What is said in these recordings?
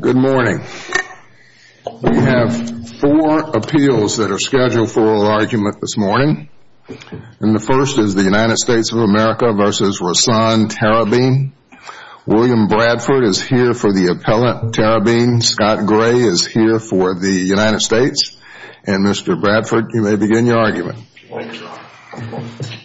Good morning. We have four appeals that are scheduled for argument this morning. And the first is the United States of America v. Rassan Tarabein. William Bradford is here for the appellate Tarabein. Scott Gray is here for the United States. And Mr. Bradford, you may Mr. Bradford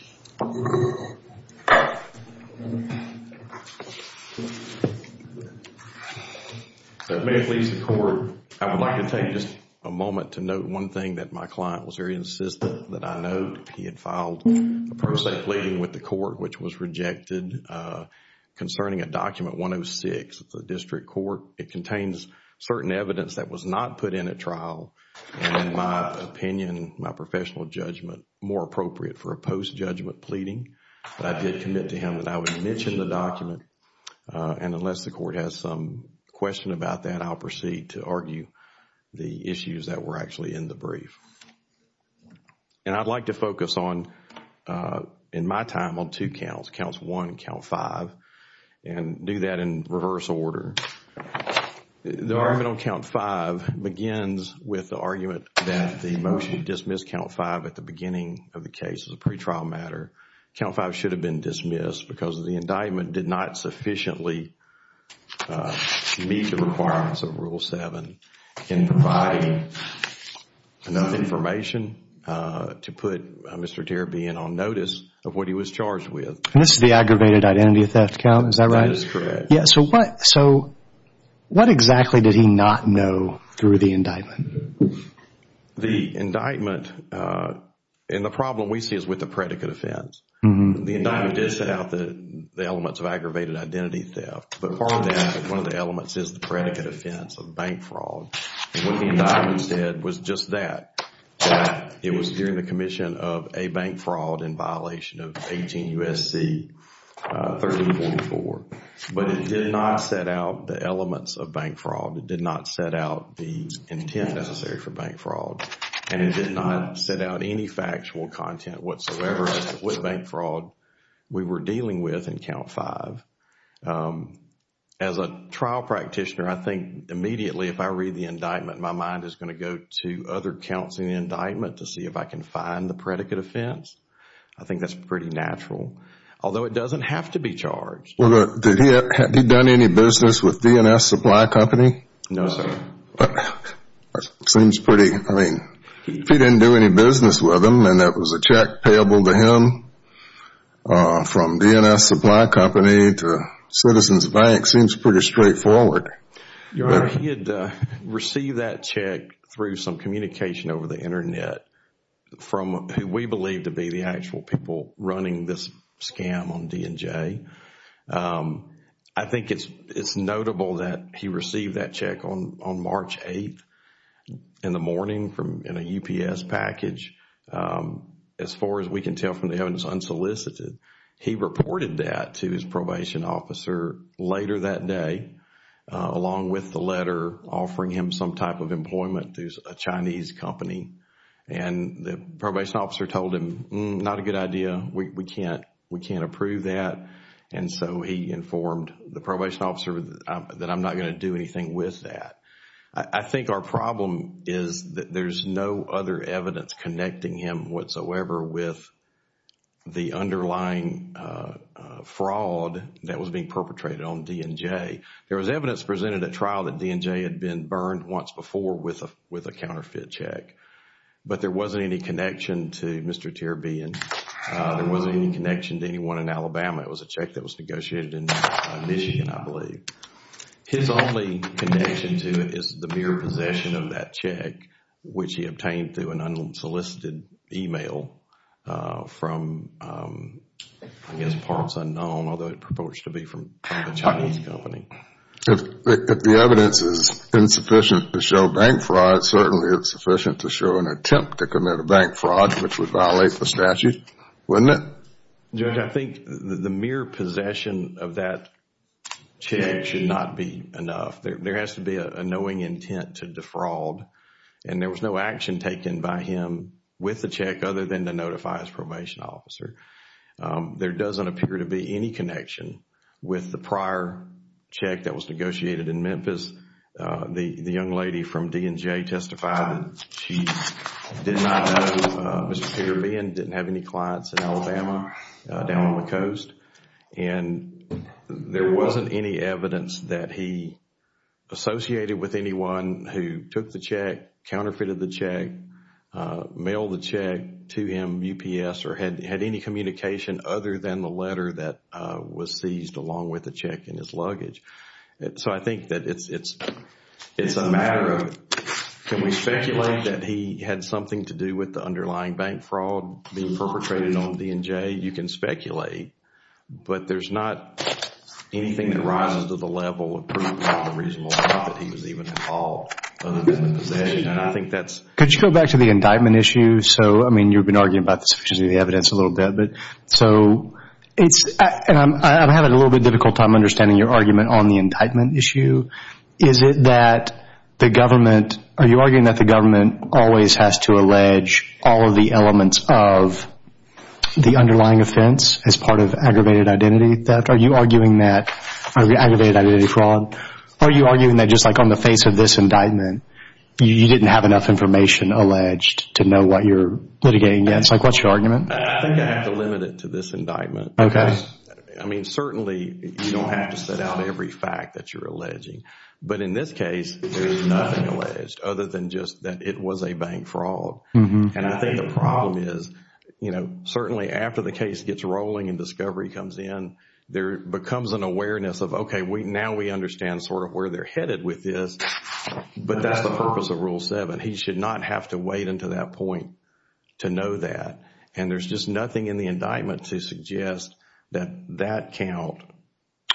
That may please the court. I would like to take just a moment to note one thing that my client was very insistent that I note. He had filed a pro se pleading with the court, which was rejected concerning a document 106 of the district court. It contains certain evidence that was not put in a trial. And in my opinion, my professional judgment, more appropriate for a post judgment pleading. But I did commit to him that I would mention the document. And unless the court has some question about that, I'll proceed to argue the issues that were actually in the brief. And I'd like to focus on, in my time, on two counts. Counts one and count five. And do that in reverse order. The argument on count five begins with the argument that the motion dismissed count five at the beginning of the case as a pretrial matter. Count five should have been dismissed because the indictment did not sufficiently meet the requirements of rule seven in providing enough information to put Mr. Tarabein on notice of what he was charged with. And this is the aggravated identity theft count, is that right? That is correct. So what exactly did he not know through the indictment? The indictment, and the problem we see is with the predicate offense. The indictment did set out the elements of aggravated identity theft. But part of that, one of the elements is the predicate offense of bank fraud. And what the indictment said was just that it was during the commission of a bank fraud in violation of 18 U.S.C. 1344. But it did not set out the elements of bank fraud. It did not set out the intent necessary for bank fraud. And it did not set out any factual content whatsoever with bank fraud we were dealing with in count five. As a trial practitioner, I think immediately if I read the indictment, my mind is going to go to other counts in the indictment to see if I can find the predicate offense. I think that's pretty natural. Although it doesn't have to be charged. Well, did he have done any business with DNS Supply Company? No, sir. Seems pretty, I mean, he didn't do any business with them and that was a check payable to him from DNS Supply Company to Citizens Bank. Seems pretty straightforward. Your Honor, he had received that check through some communication over the internet from who we believe to be the actual people running this scam on DNJ. I think it's notable that he received that check on March 8th in the morning in a UPS package. As far as we can tell from the evidence unsolicited, he reported that to his probation officer later that day along with the letter offering him some type of employment through a Chinese company. The probation officer told him, not a good idea, we can't approve that. He informed the probation officer that I'm not going to do anything with that. I think our problem is that there's no other evidence connecting him whatsoever with the underlying fraud that was being perpetrated on DNJ. There was evidence presented at trial that DNJ had been burned once before with a counterfeit check. But there wasn't any connection to Mr. Tirabian. There wasn't any connection to anyone in Alabama. It was a check that was negotiated in Michigan, I believe. His only connection to it is the mere possession of that check which he obtained through an unsolicited email from, I guess, parts unknown, although it purports to be from a Chinese company. If the evidence is insufficient to show bank fraud, certainly it's sufficient to show an attempt to commit a bank fraud which would violate the statute, wouldn't it? Judge, I think the mere possession of that check should not be enough. There has to be a knowing intent to defraud. And there was no action taken by him with the check other than to notify his probation officer. There doesn't appear to be any connection with the prior check that was negotiated in Memphis. The young lady from DNJ testified that she did not know Mr. Tirabian, didn't have any clients in Alabama down on the coast. And there wasn't any evidence that he associated with anyone who took the check, counterfeited the check, mailed the check to him, UPS, or had any communication other than the letter that was seized along with the check in his luggage. So I think that it's a matter of can we speculate that he had something to do with the underlying bank fraud being perpetrated on DNJ? You can speculate. But there's not anything that rises to the level of proof of the reasonable doubt that he was even involved other than the possession. And I think that's... Could you go back to the indictment issue? So, I mean, you've been arguing about the sufficiency of the evidence a little bit. So it's, and I'm having a little bit difficult time understanding your argument on the indictment issue. Is it that the government, are you arguing that the government always has to allege all of the elements of the underlying offense as part of aggravated identity theft? Are you arguing that aggravated identity fraud? Are you arguing that just like on the face of this indictment, you didn't have enough information alleged to know what you're litigating against? Like, what's your argument? I think I have to limit it to this indictment. Okay. I mean, certainly you don't have to set out every fact that you're alleging. But in this case, there's nothing alleged other than just that it was a bank fraud. And I think the problem is, you know, certainly after the case gets rolling and discovery comes in, there becomes an awareness of, okay, now we understand sort of where they're headed with this. But that's the purpose of Rule 7. He should not have to wait until that point to know that. And there's just nothing in the indictment to suggest that that count,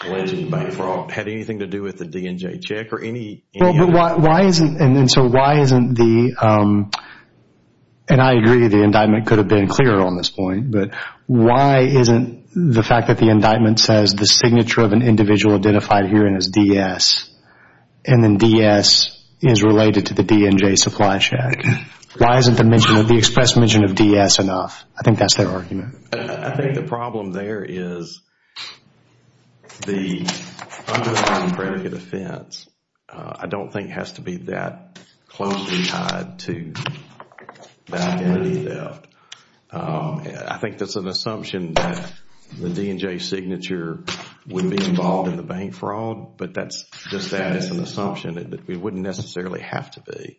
alleged bank fraud, had anything to do with the DNJ check or any... Why isn't... And so why isn't the... And I agree the indictment could have been clearer on this point. But why isn't the fact that the indictment says the signature of an individual identified herein is DS, and then DS is related to the DNJ supply check? Why isn't the express mention of DS enough? I think that's their argument. I think the problem there is the underlined predicate offense. I don't think it has to be that closely tied to the identity theft. I think that's an assumption that the DNJ signature would be involved in the bank fraud. But that's just an assumption that it wouldn't necessarily have to be.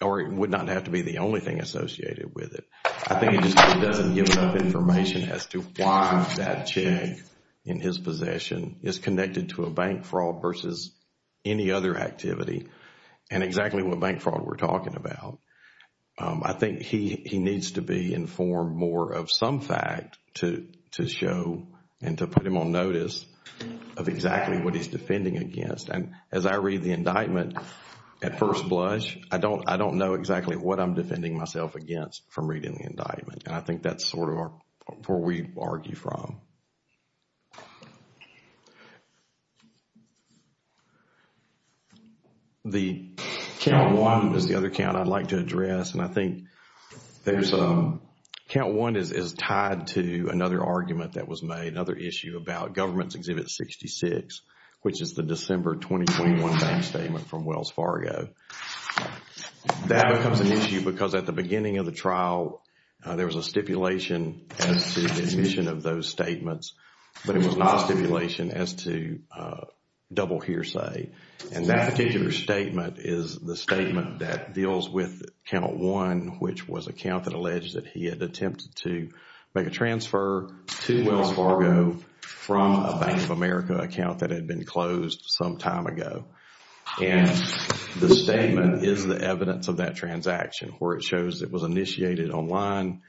Or it would not have to be the only thing associated with it. I think it just doesn't give enough information as to why that check in his possession is connected to a bank fraud versus any other activity and exactly what bank fraud we're talking about. I think he needs to be informed more of some fact to show and to put him on notice of exactly what he's defending against. And as I read the indictment at first blush, I don't know exactly what I'm defending myself against from reading the indictment. And I think that's sort of where we argue from. The count one is the other count I'd like to address. And I think there's a count one is tied to another argument that was made, another issue about government's exhibit 66, which is the December 2021 bank statement from Wells Fargo. That becomes an issue because at the beginning of the trial, there was a stipulation as to the admission of those statements. But it was not a stipulation as to double hearsay. And that particular statement is the statement that deals with count one, which was a count that alleged that he had attempted to make a transfer to Wells Fargo from a Bank of America account that had been closed some time ago. And the statement is the evidence of that transaction where it shows it was initiated online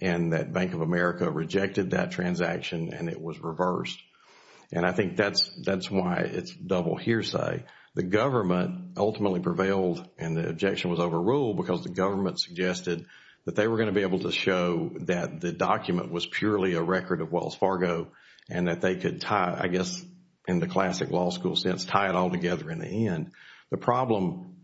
and that Bank of America rejected that transaction and it was reversed. And I think that's why it's double hearsay. The government ultimately prevailed and the objection was overruled because the government suggested that they were going to be able to show that the document was purely a record of Wells Fargo and that they could tie, I guess, in the classic law school sense, tie it all together in the end. The problem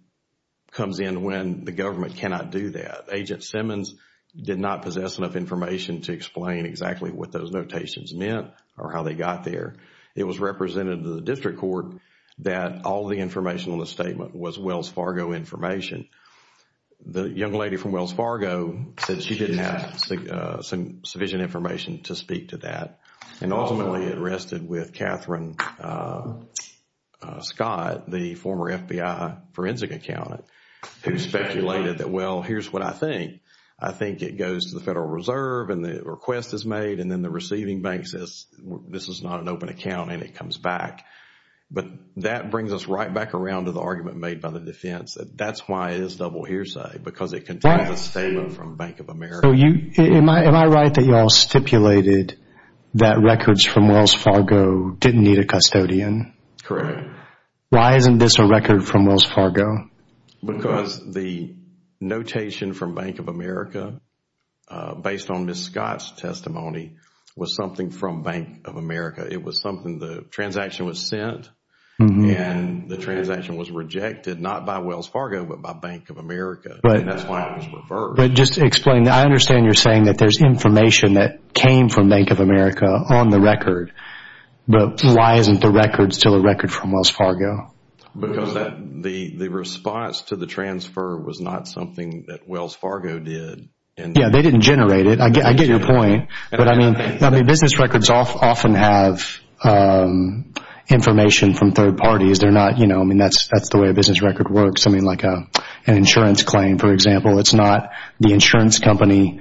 comes in when the government cannot do that. Agent Simmons did not possess enough information to explain exactly what those notations meant or how they got there. It was represented to the district court that all the information on the statement was Wells Fargo information. The young lady from Wells Fargo said she didn't have sufficient information to speak to that. And ultimately, it rested with Catherine Scott, the former FBI forensic accountant, who speculated that, well, here's what I think. I think it goes to the Federal Reserve and the request is made and then the receiving bank says this is not an open account and it comes back. But that brings us right back around to the argument made by the defense that that's why it is double hearsay because it contains a statement from Bank of America. So, am I right that you all stipulated that records from Wells Fargo didn't need a custodian? Correct. Why isn't this a record from Wells Fargo? Because the notation from Bank of America, based on Ms. Scott's testimony, was something from Bank of America. It was something, the transaction was sent and the transaction was rejected, not by Wells Fargo, but by Bank of America. And that's why it was reversed. But just explain, I understand you're saying that there's information that came from Bank of America on the record, but why isn't the record still a record from Wells Fargo? Because the response to the transfer was not something that Wells Fargo did. Yeah, they didn't generate it. I get your point. But I mean, business records often have information from third parties. They're not, I mean, that's the way a business record works. I mean, like an insurance claim, for example. It's not the insurance company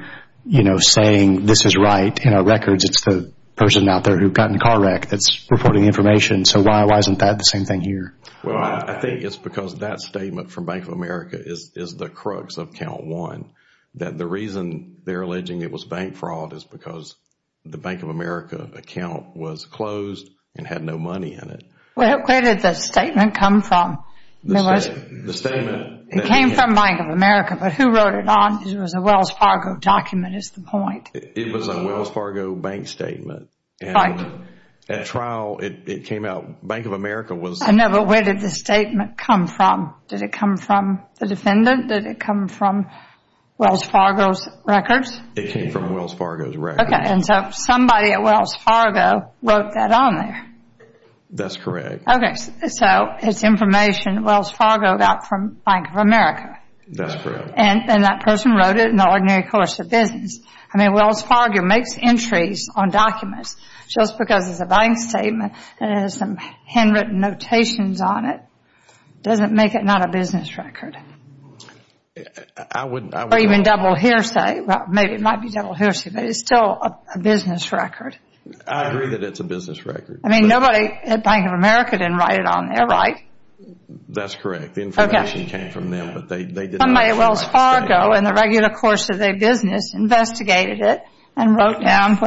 saying this is right in our records. It's the person out there who got in a car wreck that's reporting information. So, why isn't that the same thing here? Well, I think it's because that statement from Bank of America is the crux of count one. That the reason they're alleging it was bank fraud is because the Bank of America account was closed and had no money in it. Well, where did the statement come from? The statement... It came from Bank of America, but who wrote it on? It was a Wells Fargo document is the point. It was a Wells Fargo bank statement. Right. At trial, it came out, Bank of America was... No, but where did the statement come from? Did it come from the defendant? Did it come from Wells Fargo's records? It came from Wells Fargo's records. Okay, and so somebody at Wells Fargo wrote that on there. That's correct. Okay, so it's information Wells Fargo got from Bank of America. That's correct. And that person wrote it in the ordinary course of business. I mean, Wells Fargo makes entries on documents just because it's a bank statement and it has some handwritten notations on it. It doesn't make it not a business record. I wouldn't... Or even double hearsay. Maybe it might be double hearsay, but it's still a business record. I agree that it's a business record. I mean, nobody at Bank of America didn't write it on there, right? That's correct. The information came from them, but they didn't... Somebody at Wells Fargo in the regular course of their business investigated it and wrote down...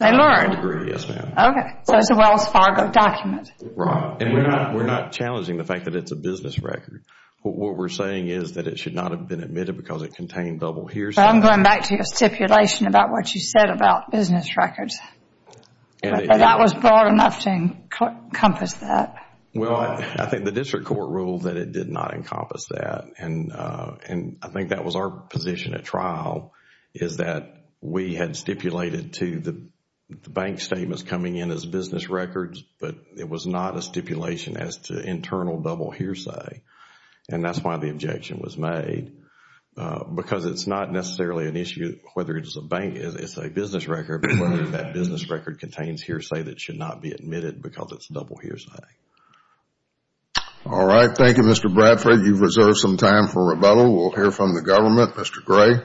They learned. I would agree, yes, ma'am. Okay, so it's a Wells Fargo document. Right, and we're not challenging the fact that it's a business record. What we're saying is that it should not have been admitted because it contained double hearsay. I'm going back to your stipulation about what you said about business records. That was broad enough to encompass that. Well, I think the district court ruled that it did not encompass that and I think that was our position at trial is that we had stipulated to the bank statements coming in as business records, but it was not a stipulation as to internal double hearsay and that's why the objection was made because it's not necessarily an issue whether it's a bank, it's a business record, but whether that business record contains hearsay that should not be admitted because it's double hearsay. All right. Thank you, Mr. Bradford. You've reserved some time for rebuttal. We'll hear from the government. Mr. Gray.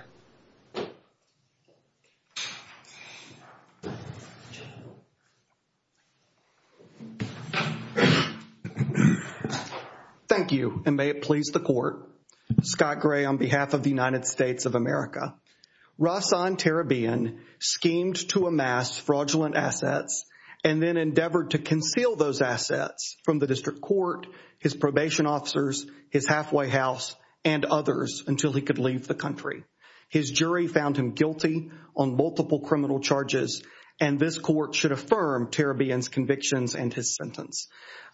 Thank you and may it please the court. Scott Gray on behalf of the United States of America. Rahsaan Tarabian schemed to amass fraudulent assets and then endeavored to conceal those assets from the district court, his probation officers, his halfway house, and others until he could leave the country. His jury found him guilty on multiple criminal charges and this court should affirm Tarabian's convictions and his sentence.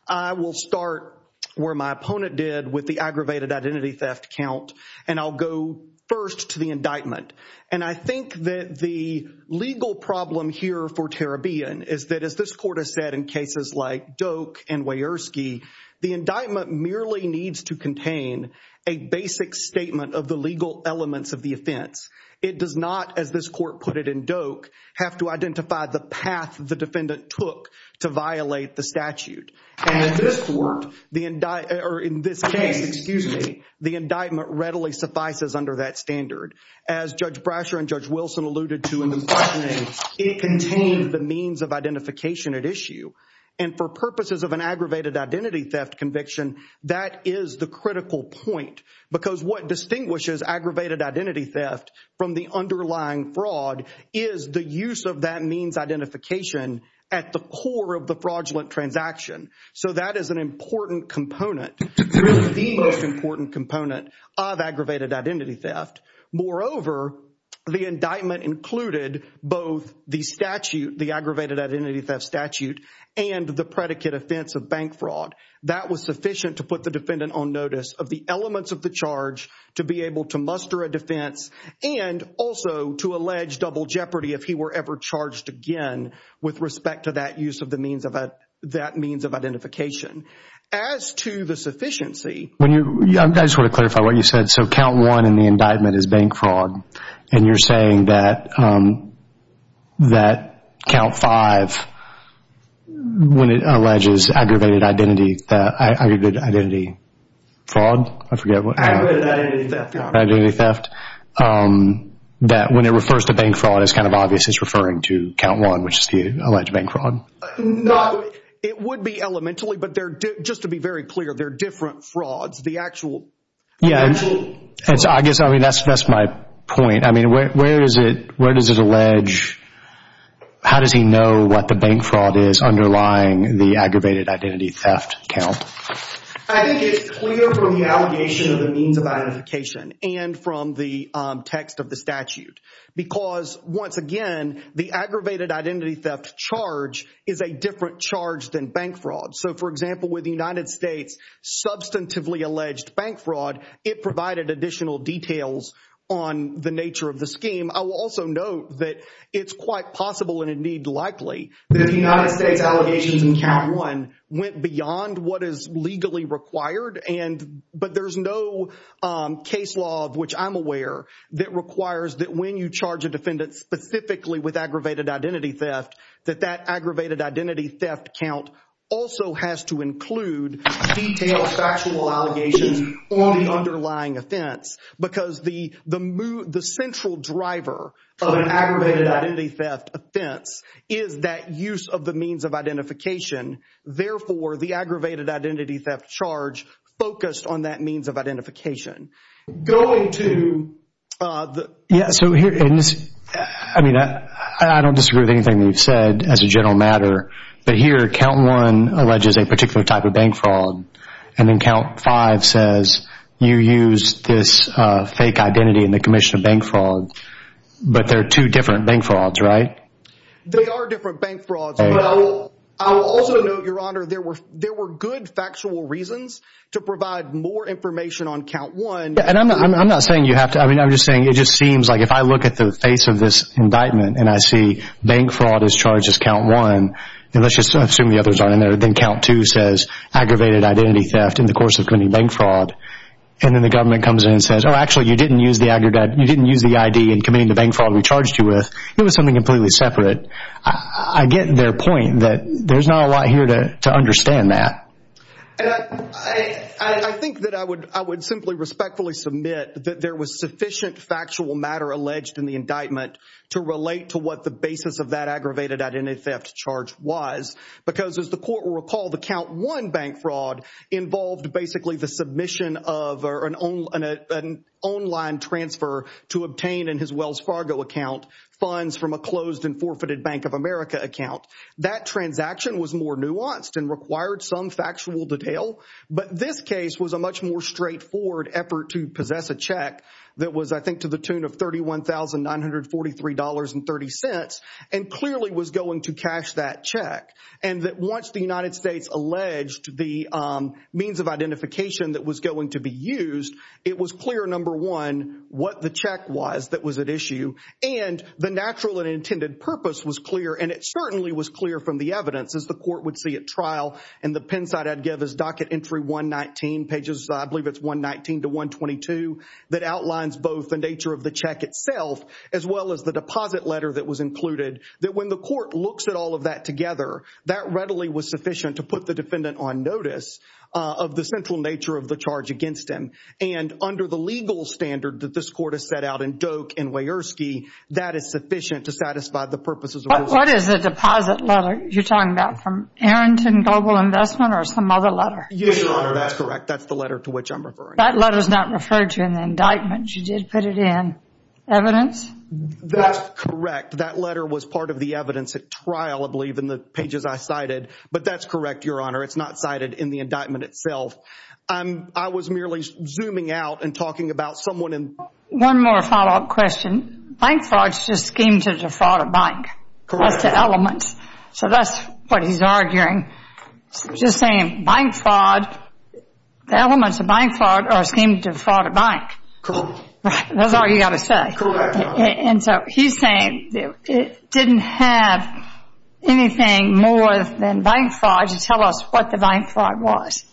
I will start where my opponent did with the aggravated identity theft count and I'll go first to the indictment and I think that the legal problem here for Tarabian is that as this court has said in cases like Doak and Wierski, the indictment merely needs to contain a basic statement of the legal elements of the offense. It does not, as this court put it in Doak, have to identify the path the defendant took to violate the statute. And in this court, or in this case, excuse me, the indictment readily suffices under that standard. As Judge Brasher and Judge Wilson alluded to in the indictment, it contained the means of identification at issue. And for purposes of an aggravated identity theft conviction, that is the critical point because what distinguishes aggravated identity theft from the underlying fraud is the use of that means identification at the core of the fraudulent transaction. So that is an important component, really the most important component of aggravated identity theft. Moreover, the indictment included both the statute, the aggravated identity theft statute and the predicate offense of bank fraud. That was sufficient to put the defendant on notice of the elements of the charge to be able to muster a defense and also to allege double jeopardy if he were ever charged again with respect to that use of that means of identification. As to the sufficiency... I just want to clarify what you said. So count one in the indictment is bank fraud. And you're saying that count five, when it alleges aggravated identity fraud, I forget what- Aggravated identity theft. Identity theft. That when it refers to bank fraud, it's kind of obvious it's referring to count one, which is the alleged bank fraud. No, it would be elementarily, but just to be very clear, they're different frauds. The actual- Yeah, I guess that's my point. I mean, where does it allege, how does he know what the bank fraud is underlying the aggravated identity theft count? I think it's clear from the allegation of the means of identification and from the text of the statute, because once again, the aggravated identity theft charge is a different charge than bank fraud. So for example, with the United States substantively alleged bank fraud, it provided additional details on the nature of the scheme. I will also note that it's quite possible and indeed likely that the United States allegations in count one went beyond what is legally required, but there's no case law of which I'm aware that requires that when you charge a defendant specifically with aggravated identity theft, that that aggravated identity theft count also has to include detailed factual allegations on the underlying offense, because the central driver of an aggravated identity theft offense is that use of the means of identification. Therefore, the aggravated identity theft charge focused on that means of identification. Going to the- Yeah, so here, I mean, I don't disagree with anything that you've said as a general matter, but here count one alleges a particular type of bank fraud, and then count five says you use this fake identity in the commission of bank fraud, but they're two different bank frauds, right? They are different bank frauds, but I will also note, Your Honor, there were good factual reasons to provide more information on count one. Yeah, and I'm not saying you have to, I mean, I'm just saying it just seems like if I look at the face of this indictment and I see bank fraud is charged as count one, and let's just assume the others aren't in there, then count two says aggravated identity theft in the course of committing bank fraud, and then the government comes in and says, oh, actually, you didn't use the ID in committing the bank fraud we charged you with. It was something completely separate. I get their point that there's not a lot here to understand that. And I think that I would simply respectfully submit that there was sufficient factual matter alleged in the indictment to relate to what the basis of that aggravated identity theft charge was, because as the court will recall, the count one bank fraud involved basically the submission of an online transfer to obtain in his Wells Fargo account funds from a closed and forfeited Bank of America account. That transaction was more nuanced and required some factual detail. But this case was a much more straightforward effort to possess a check that was, I think, to the tune of $31,943.30 and clearly was going to cash that check. And that once the United States alleged the means of identification that was going to be used, it was clear, number one, what the check was that was at issue and the natural and intended purpose was clear. And it certainly was clear from the evidence as the court would see at trial. And the pen side I'd give is docket entry 119 pages, I believe it's 119 to 122, that outlines both the nature of the check itself, as well as the deposit letter that was included, that when the court looks at all of that together, that readily was sufficient to put the defendant on notice of the central nature of the charge against him. And under the legal standard that this court has set out in Doak and Weiersky, that is sufficient to satisfy the purposes of this case. What is the deposit letter you're talking about from Arrington Global Investment or some other letter? Yes, Your Honor, that's correct. That's the letter to which I'm referring. That letter's not referred to in the indictment. You did put it in. That's correct. That letter was part of the evidence at trial, I believe, in the pages I cited. But that's correct, Your Honor. It's not cited in the indictment itself. I was merely zooming out and talking about someone in... One more follow-up question. Bank fraud is just a scheme to defraud a bank. Correct. That's the elements. So that's what he's arguing. He's just saying bank fraud, the elements of bank fraud are a scheme to defraud a bank. Correct. That's all you've got to say. Correct, Your Honor. And so he's saying it didn't have anything more than bank fraud to tell us what the bank fraud was.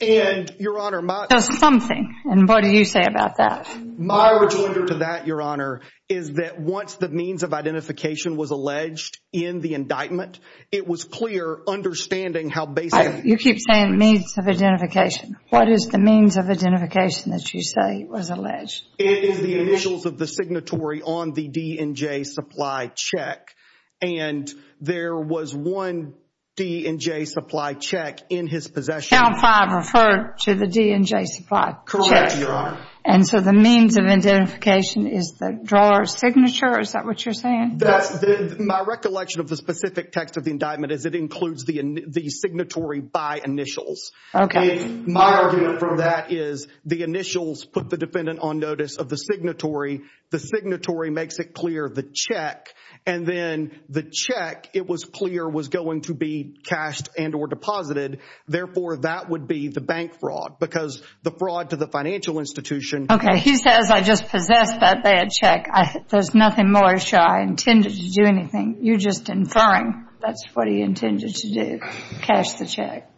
And, Your Honor, my... There's something. And what do you say about that? My rejection to that, Your Honor, is that once the means of identification was alleged in the indictment, it was clear, understanding how basically... You keep saying means of identification. What is the means of identification that you say was alleged? It is the initials of the signatory on the D&J supply check. And there was one D&J supply check in his possession. Count 5 referred to the D&J supply check. Correct, Your Honor. And so the means of identification is the drawer signature, is that what you're saying? That's the... My recollection of the specific text of the indictment is it includes the signatory by initials. Okay. My argument from that is the initials put the defendant on notice of the signatory. The signatory makes it clear the check. And then the check, it was clear, was going to be cashed and or deposited. Therefore, that would be the bank fraud because the fraud to the financial institution... Okay, he says, I just possessed that bad check. There's nothing more I intended to do anything. You're just inferring that's what he intended to do, cash the check.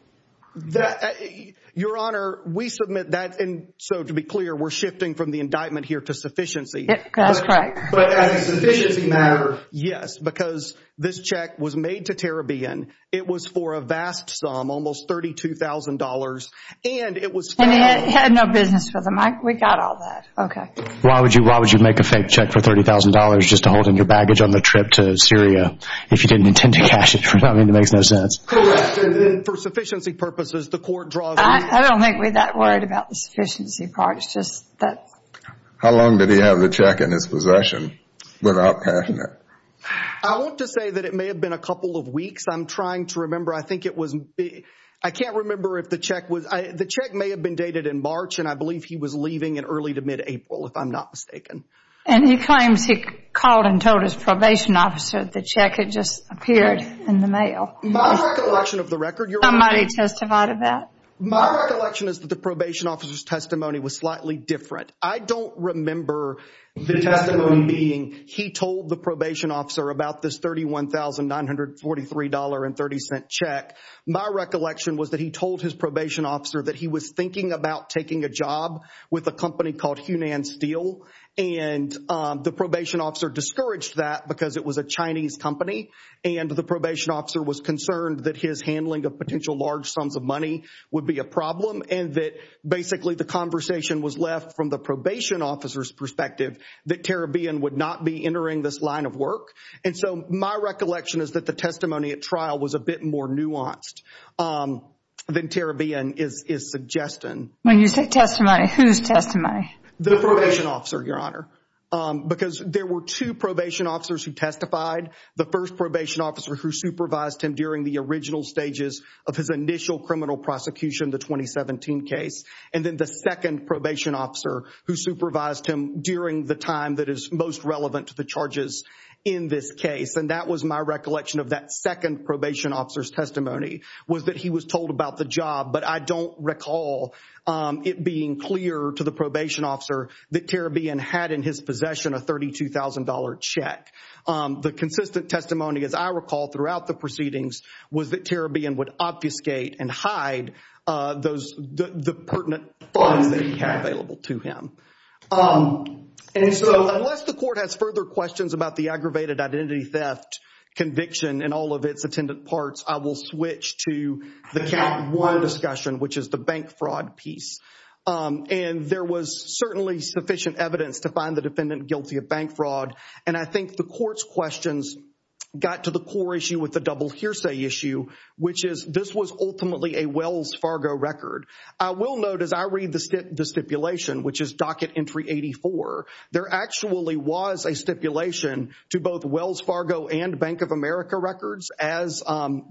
Your Honor, we submit that. And so to be clear, we're shifting from the indictment here to sufficiency. That's correct. But as a sufficiency matter... Yes, because this check was made to Terrabian. It was for a vast sum, almost $32,000. And it was... And he had no business with them. We got all that. Why would you make a fake check for $30,000 just to hold in your baggage on the trip to Syria if you didn't intend to cash it? I mean, it makes no sense. Correct. And then for sufficiency purposes, the court draws... I don't make me that worried about the sufficiency part. It's just that... How long did he have the check in his possession without cashing it? I want to say that it may have been a couple of weeks. I'm trying to remember. I think it was... I can't remember if the check was... The check may have been dated in March, and I believe he was leaving in early to mid-April, if I'm not mistaken. And he claims he called and told his probation officer that the check had just appeared in the mail. My recollection of the record, Your Honor... Somebody testified about it? My recollection is that the probation officer's testimony was slightly different. I don't remember the testimony being, he told the probation officer about this $31,943 check. My recollection was that he told his probation officer that he was thinking about taking a job with a company called Hunan Steel. And the probation officer discouraged that because it was a Chinese company, and the probation officer was concerned that his handling of potential large sums of money would be a problem, and that basically the conversation was left from the probation officer's perspective that Terrabian would not be entering this line of work. And so my recollection is that the testimony at trial was a bit more nuanced than Terrabian is suggesting. When you say testimony, whose testimony? The probation officer, Your Honor, because there were two probation officers who testified. The first probation officer who supervised him during the original stages of his initial criminal prosecution, the 2017 case, and then the second probation officer who supervised him during the time that is most relevant to the charges in this case, and that was my recollection of that second probation officer's testimony, was that he was told about the job, but I don't recall it being clear to the probation officer that Terrabian had in his possession a $32,000 check. The consistent testimony, as I recall, throughout the proceedings was that Terrabian would obfuscate and hide the pertinent funds that he had available to him. And so unless the court has further questions about the aggravated identity theft conviction and all of its attendant parts, I will switch to the count one discussion, which is the bank fraud piece. And there was certainly sufficient evidence to find the defendant guilty of bank fraud, and I think the court's questions got to the core issue with the double hearsay issue, which is this was ultimately a Wells Fargo record. I will note, as I read the stipulation, which is docket entry 84, there actually was a stipulation to both Wells Fargo and Bank of America records as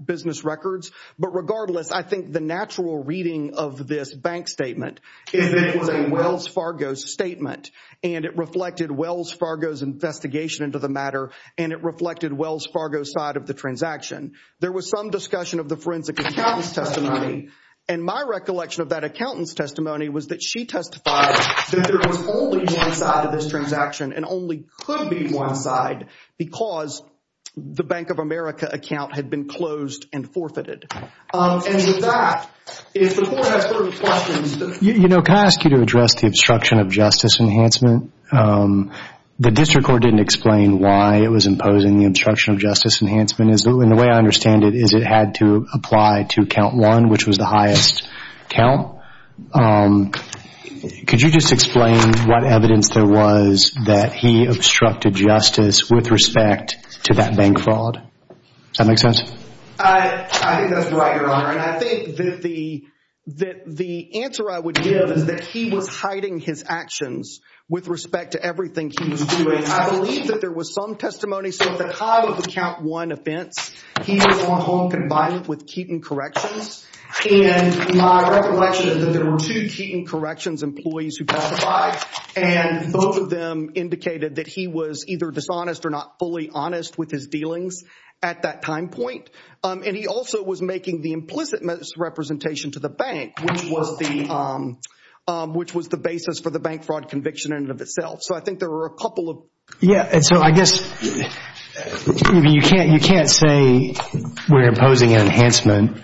business records, but regardless, I think the natural reading of this bank statement is that it was a Wells Fargo statement, and it reflected Wells Fargo's investigation into the matter, and it reflected Wells Fargo's side of the transaction. There was some discussion of the forensic accountant's testimony, and my recollection of that accountant's testimony was that she testified that there was only one side of this transaction and only could be one side because the Bank of America account had been closed and forfeited. And with that, if the court has further questions... You know, can I ask you to address the obstruction of justice enhancement? The district court didn't explain why it was imposing the obstruction of justice enhancement. The way I understand it is it had to apply to count one, which was the highest count. Could you just explain what evidence there was that he obstructed justice with respect to that bank fraud? Does that make sense? I think that's right, Your Honor, and I think that the answer I would give is that he was hiding his actions with respect to everything he was doing. I believe that there was some testimony. So at the time of the count one offense, he was on hold and confided with Keaton Corrections. And my recollection is that there were two Keaton Corrections employees who testified, and both of them indicated that he was either dishonest or not fully honest with his dealings at that time point. And he also was making the implicit misrepresentation to the bank, which was the basis for the bank fraud conviction in and of itself. So I think there were a couple of... And so I guess you can't say we're imposing an enhancement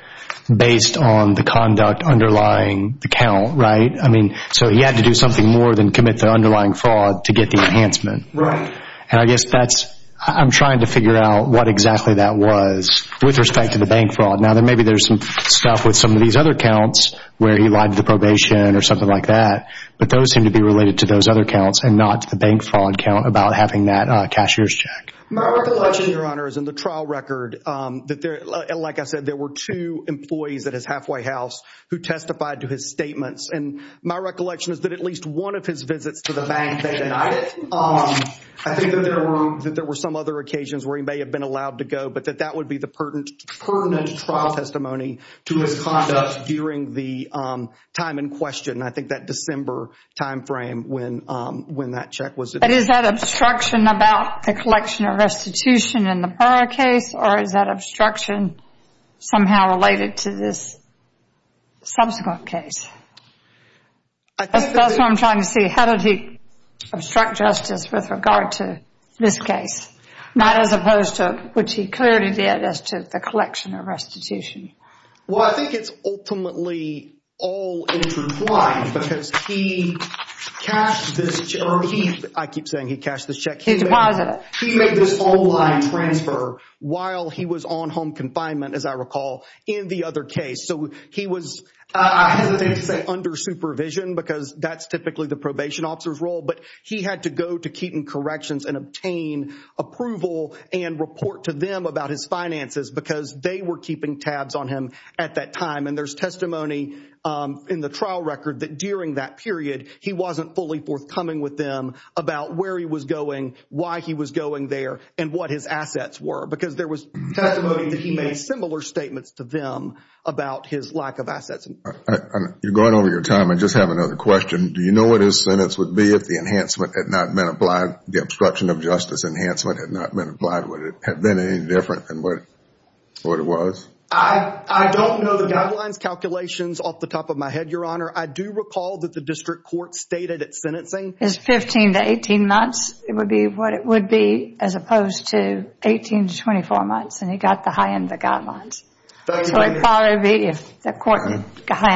based on the conduct underlying the count, right? I mean, so he had to do something more than commit the underlying fraud to get the enhancement. Right. And I guess that's... I'm trying to figure out what exactly that was with respect to the bank fraud. Now, maybe there's some stuff with some of these other counts where he lied to the probation or something like that. But those seem to be related to those other counts and not to the bank fraud count about having that cashier's check. My recollection, Your Honor, is in the trial record that there... Like I said, there were two employees at his halfway house who testified to his statements. And my recollection is that at least one of his visits to the bank, they denied it. I think that there were some other occasions where he may have been allowed to go, but that would be the pertinent trial testimony to his conduct during the time in question. I think that December timeframe when that check was... But is that obstruction about the collection of restitution in the Burr case, or is that obstruction somehow related to this subsequent case? That's what I'm trying to see. How did he obstruct justice with regard to this case? Not as opposed to... Which he clearly did as to the collection of restitution. Well, I think it's ultimately all in true plight because he cashed this... I keep saying he cashed this check. He deposited it. He made this online transfer while he was on home confinement, as I recall, in the other case. So he was, I hesitate to say, under supervision because that's typically the probation officer's role. But he had to go to Keeton Corrections and obtain approval and report to them about his finances because they were keeping tabs on him at that time. And there's testimony in the trial record that during that period, he wasn't fully forthcoming with them about where he was going, why he was going there, and what his assets were. Because there was testimony that he made similar statements to them about his lack of assets. You're going over your time. I just have another question. Do you know what his sentence would be if the enhancement had not been applied, the obstruction of justice enhancement had not been applied? Would it have been any different than what it was? I don't know the guidelines calculations off the top of my head, Your Honor. I do recall that the district court stated at sentencing... His 15 to 18 months would be what it would be as opposed to 18 to 24 months. And he got the high end of the guidelines. So it would probably be, if the court had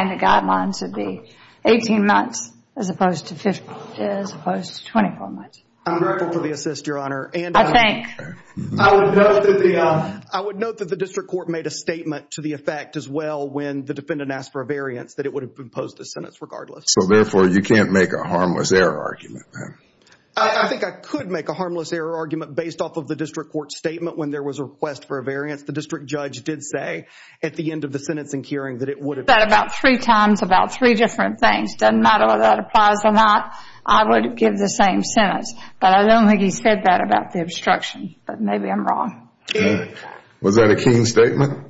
the guidelines, it would be 18 months as opposed to 24 months. I'm grateful for the assist, Your Honor. I think. I would note that the district court made a statement to the effect as well when the defendant asked for a variance that it would have been imposed a sentence regardless. So therefore, you can't make a harmless error argument then? I think I could make a harmless error argument based off of the district court's statement when there was a request for a variance. The district judge did say at the end of the sentencing hearing that it would have been... Said about three times about three different things. Doesn't matter whether that applies or not. I would give the same sentence. But I don't think he said that about the obstruction. But maybe I'm wrong. Was that a keen statement?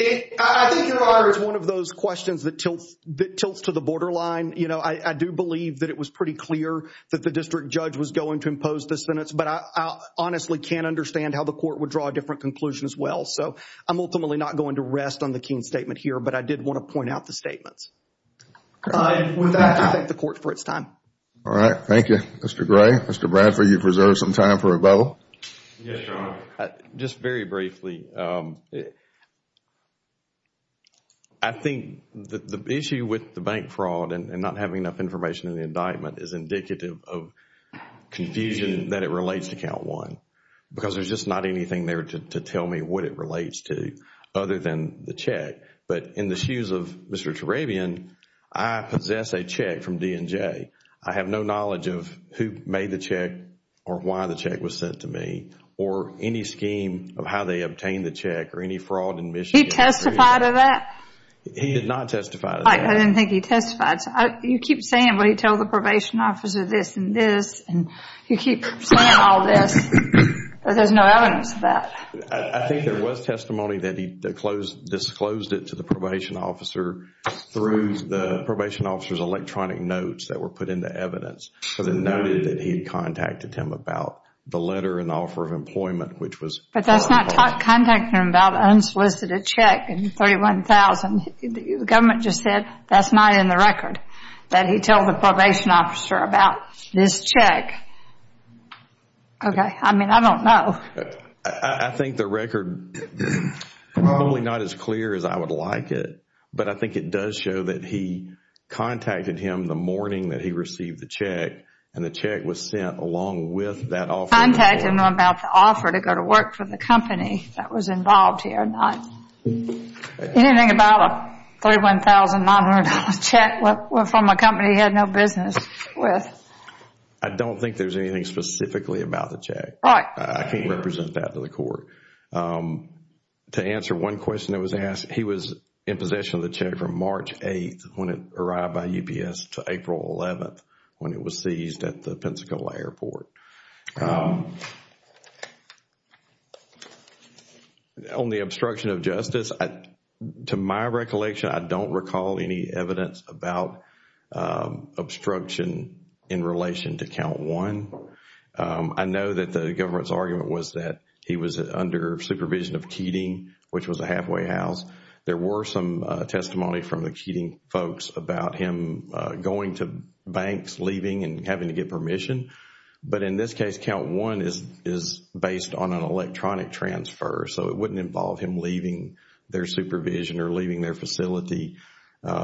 I think, Your Honor, it's one of those questions that tilts to the borderline. You know, I do believe that it was pretty clear that the district judge was going to impose the sentence. But I honestly can't understand how the court would draw a different conclusion as well. So I'm ultimately not going to rest on the keen statement here. But I did want to point out the statements. With that, I thank the court for its time. All right. Thank you, Mr. Gray. Mr. Bradford, you've reserved some time for rebuttal. Yes, Your Honor. Just very briefly. I think the issue with the bank fraud and not having enough information in the indictment is indicative of confusion that it relates to count one. Because there's just not anything there to tell me what it relates to other than the check. But in the shoes of Mr. Tarabian, I possess a check from D&J. I have no knowledge of who made the check or why the check was sent to me or any scheme of how they obtained the check or any fraud in Michigan. Did he testify to that? He did not testify to that. I didn't think he testified. You keep saying what he told the probation officer, this and this, and you keep saying all this, but there's no evidence of that. I think there was testimony that he disclosed it to the probation officer through the probation officer's electronic notes that were put into evidence. So they noted that he had contacted him about the letter and offer of employment, which was on the record. But that's not contacting him about unsolicited check and $31,000. The government just said that's not in the record, that he told the probation officer about this check. Okay. I mean, I don't know. I think the record is probably not as clear as I would like it, but I think it does show that he contacted him the morning that he received the check, and the check was sent along with that offer. Contacted him about the offer to go to work for the company that was involved here. Anything about a $31,900 check from a company he had no business with? I don't think there's anything specifically about the check. Right. I can't represent that to the court. To answer one question that was asked, he was in possession of the check from March 8th when it arrived by UPS to April 11th when it was seized at the Pensacola airport. Okay. On the obstruction of justice, to my recollection, I don't recall any evidence about obstruction in relation to count one. I know that the government's argument was that he was under supervision of Keating, which was a halfway house. There were some testimony from the Keating folks about him going to banks, leaving and having to get permission. But in this case, count one is based on an electronic transfer, so it wouldn't involve him leaving their supervision or leaving their facility.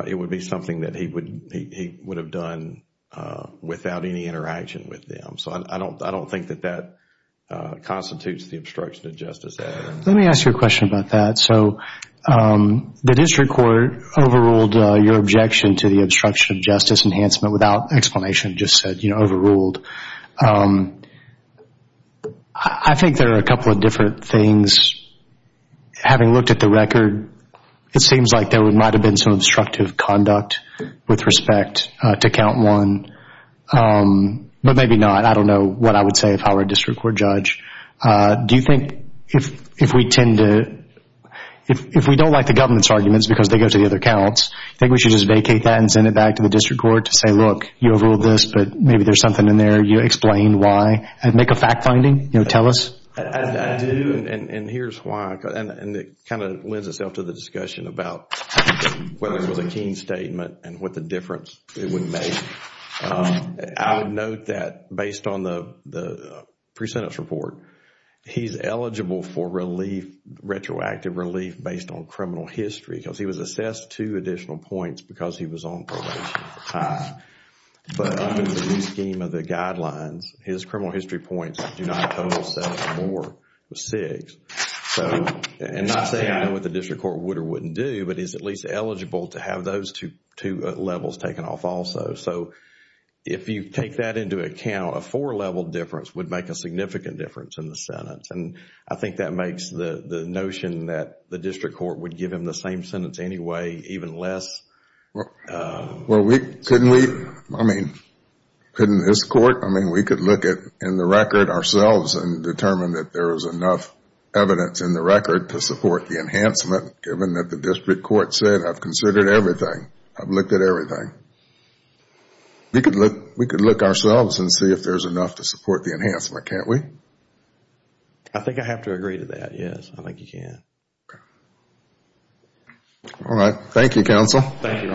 It would be something that he would have done without any interaction with them. So I don't think that that constitutes the obstruction of justice error. Let me ask you a question about that. So the district court overruled your objection to the obstruction of justice enhancement without explanation, just said overruled. I think there are a couple of different things. Having looked at the record, it seems like there might have been some obstructive conduct with respect to count one. But maybe not. I don't know what I would say if I were a district court judge. Do you think if we don't like the government's arguments because they go to the other counts, I think we should just vacate that and send it back to the district court to say, look, you overruled this, but maybe there's something in there. You explained why. Make a fact finding. Tell us. I do, and here's why. It kind of lends itself to the discussion about whether it was a keen statement and what the difference it would make. I would note that based on the pre-sentence report, he's eligible for retroactive relief based on criminal history because he was assessed two additional points because he was on probation at the time. But under the new scheme of the guidelines, his criminal history points do not total seven or more, but six. So I'm not saying I know what the district court would or wouldn't do, but he's at least eligible to have those two levels taken off also. So if you take that into account, a four-level difference would make a significant difference in the sentence. And I think that makes the notion that the district court would give him the same sentence anyway even less. Well, couldn't we? I mean, couldn't this court? I mean, we could look in the record ourselves and determine that there is enough evidence in the record to support the enhancement, given that the district court said, I've considered everything. I've looked at everything. We could look ourselves and see if there's enough to support the enhancement. Can't we? I think I have to agree to that, yes. I think you can. All right. Thank you, counsel. Thank you.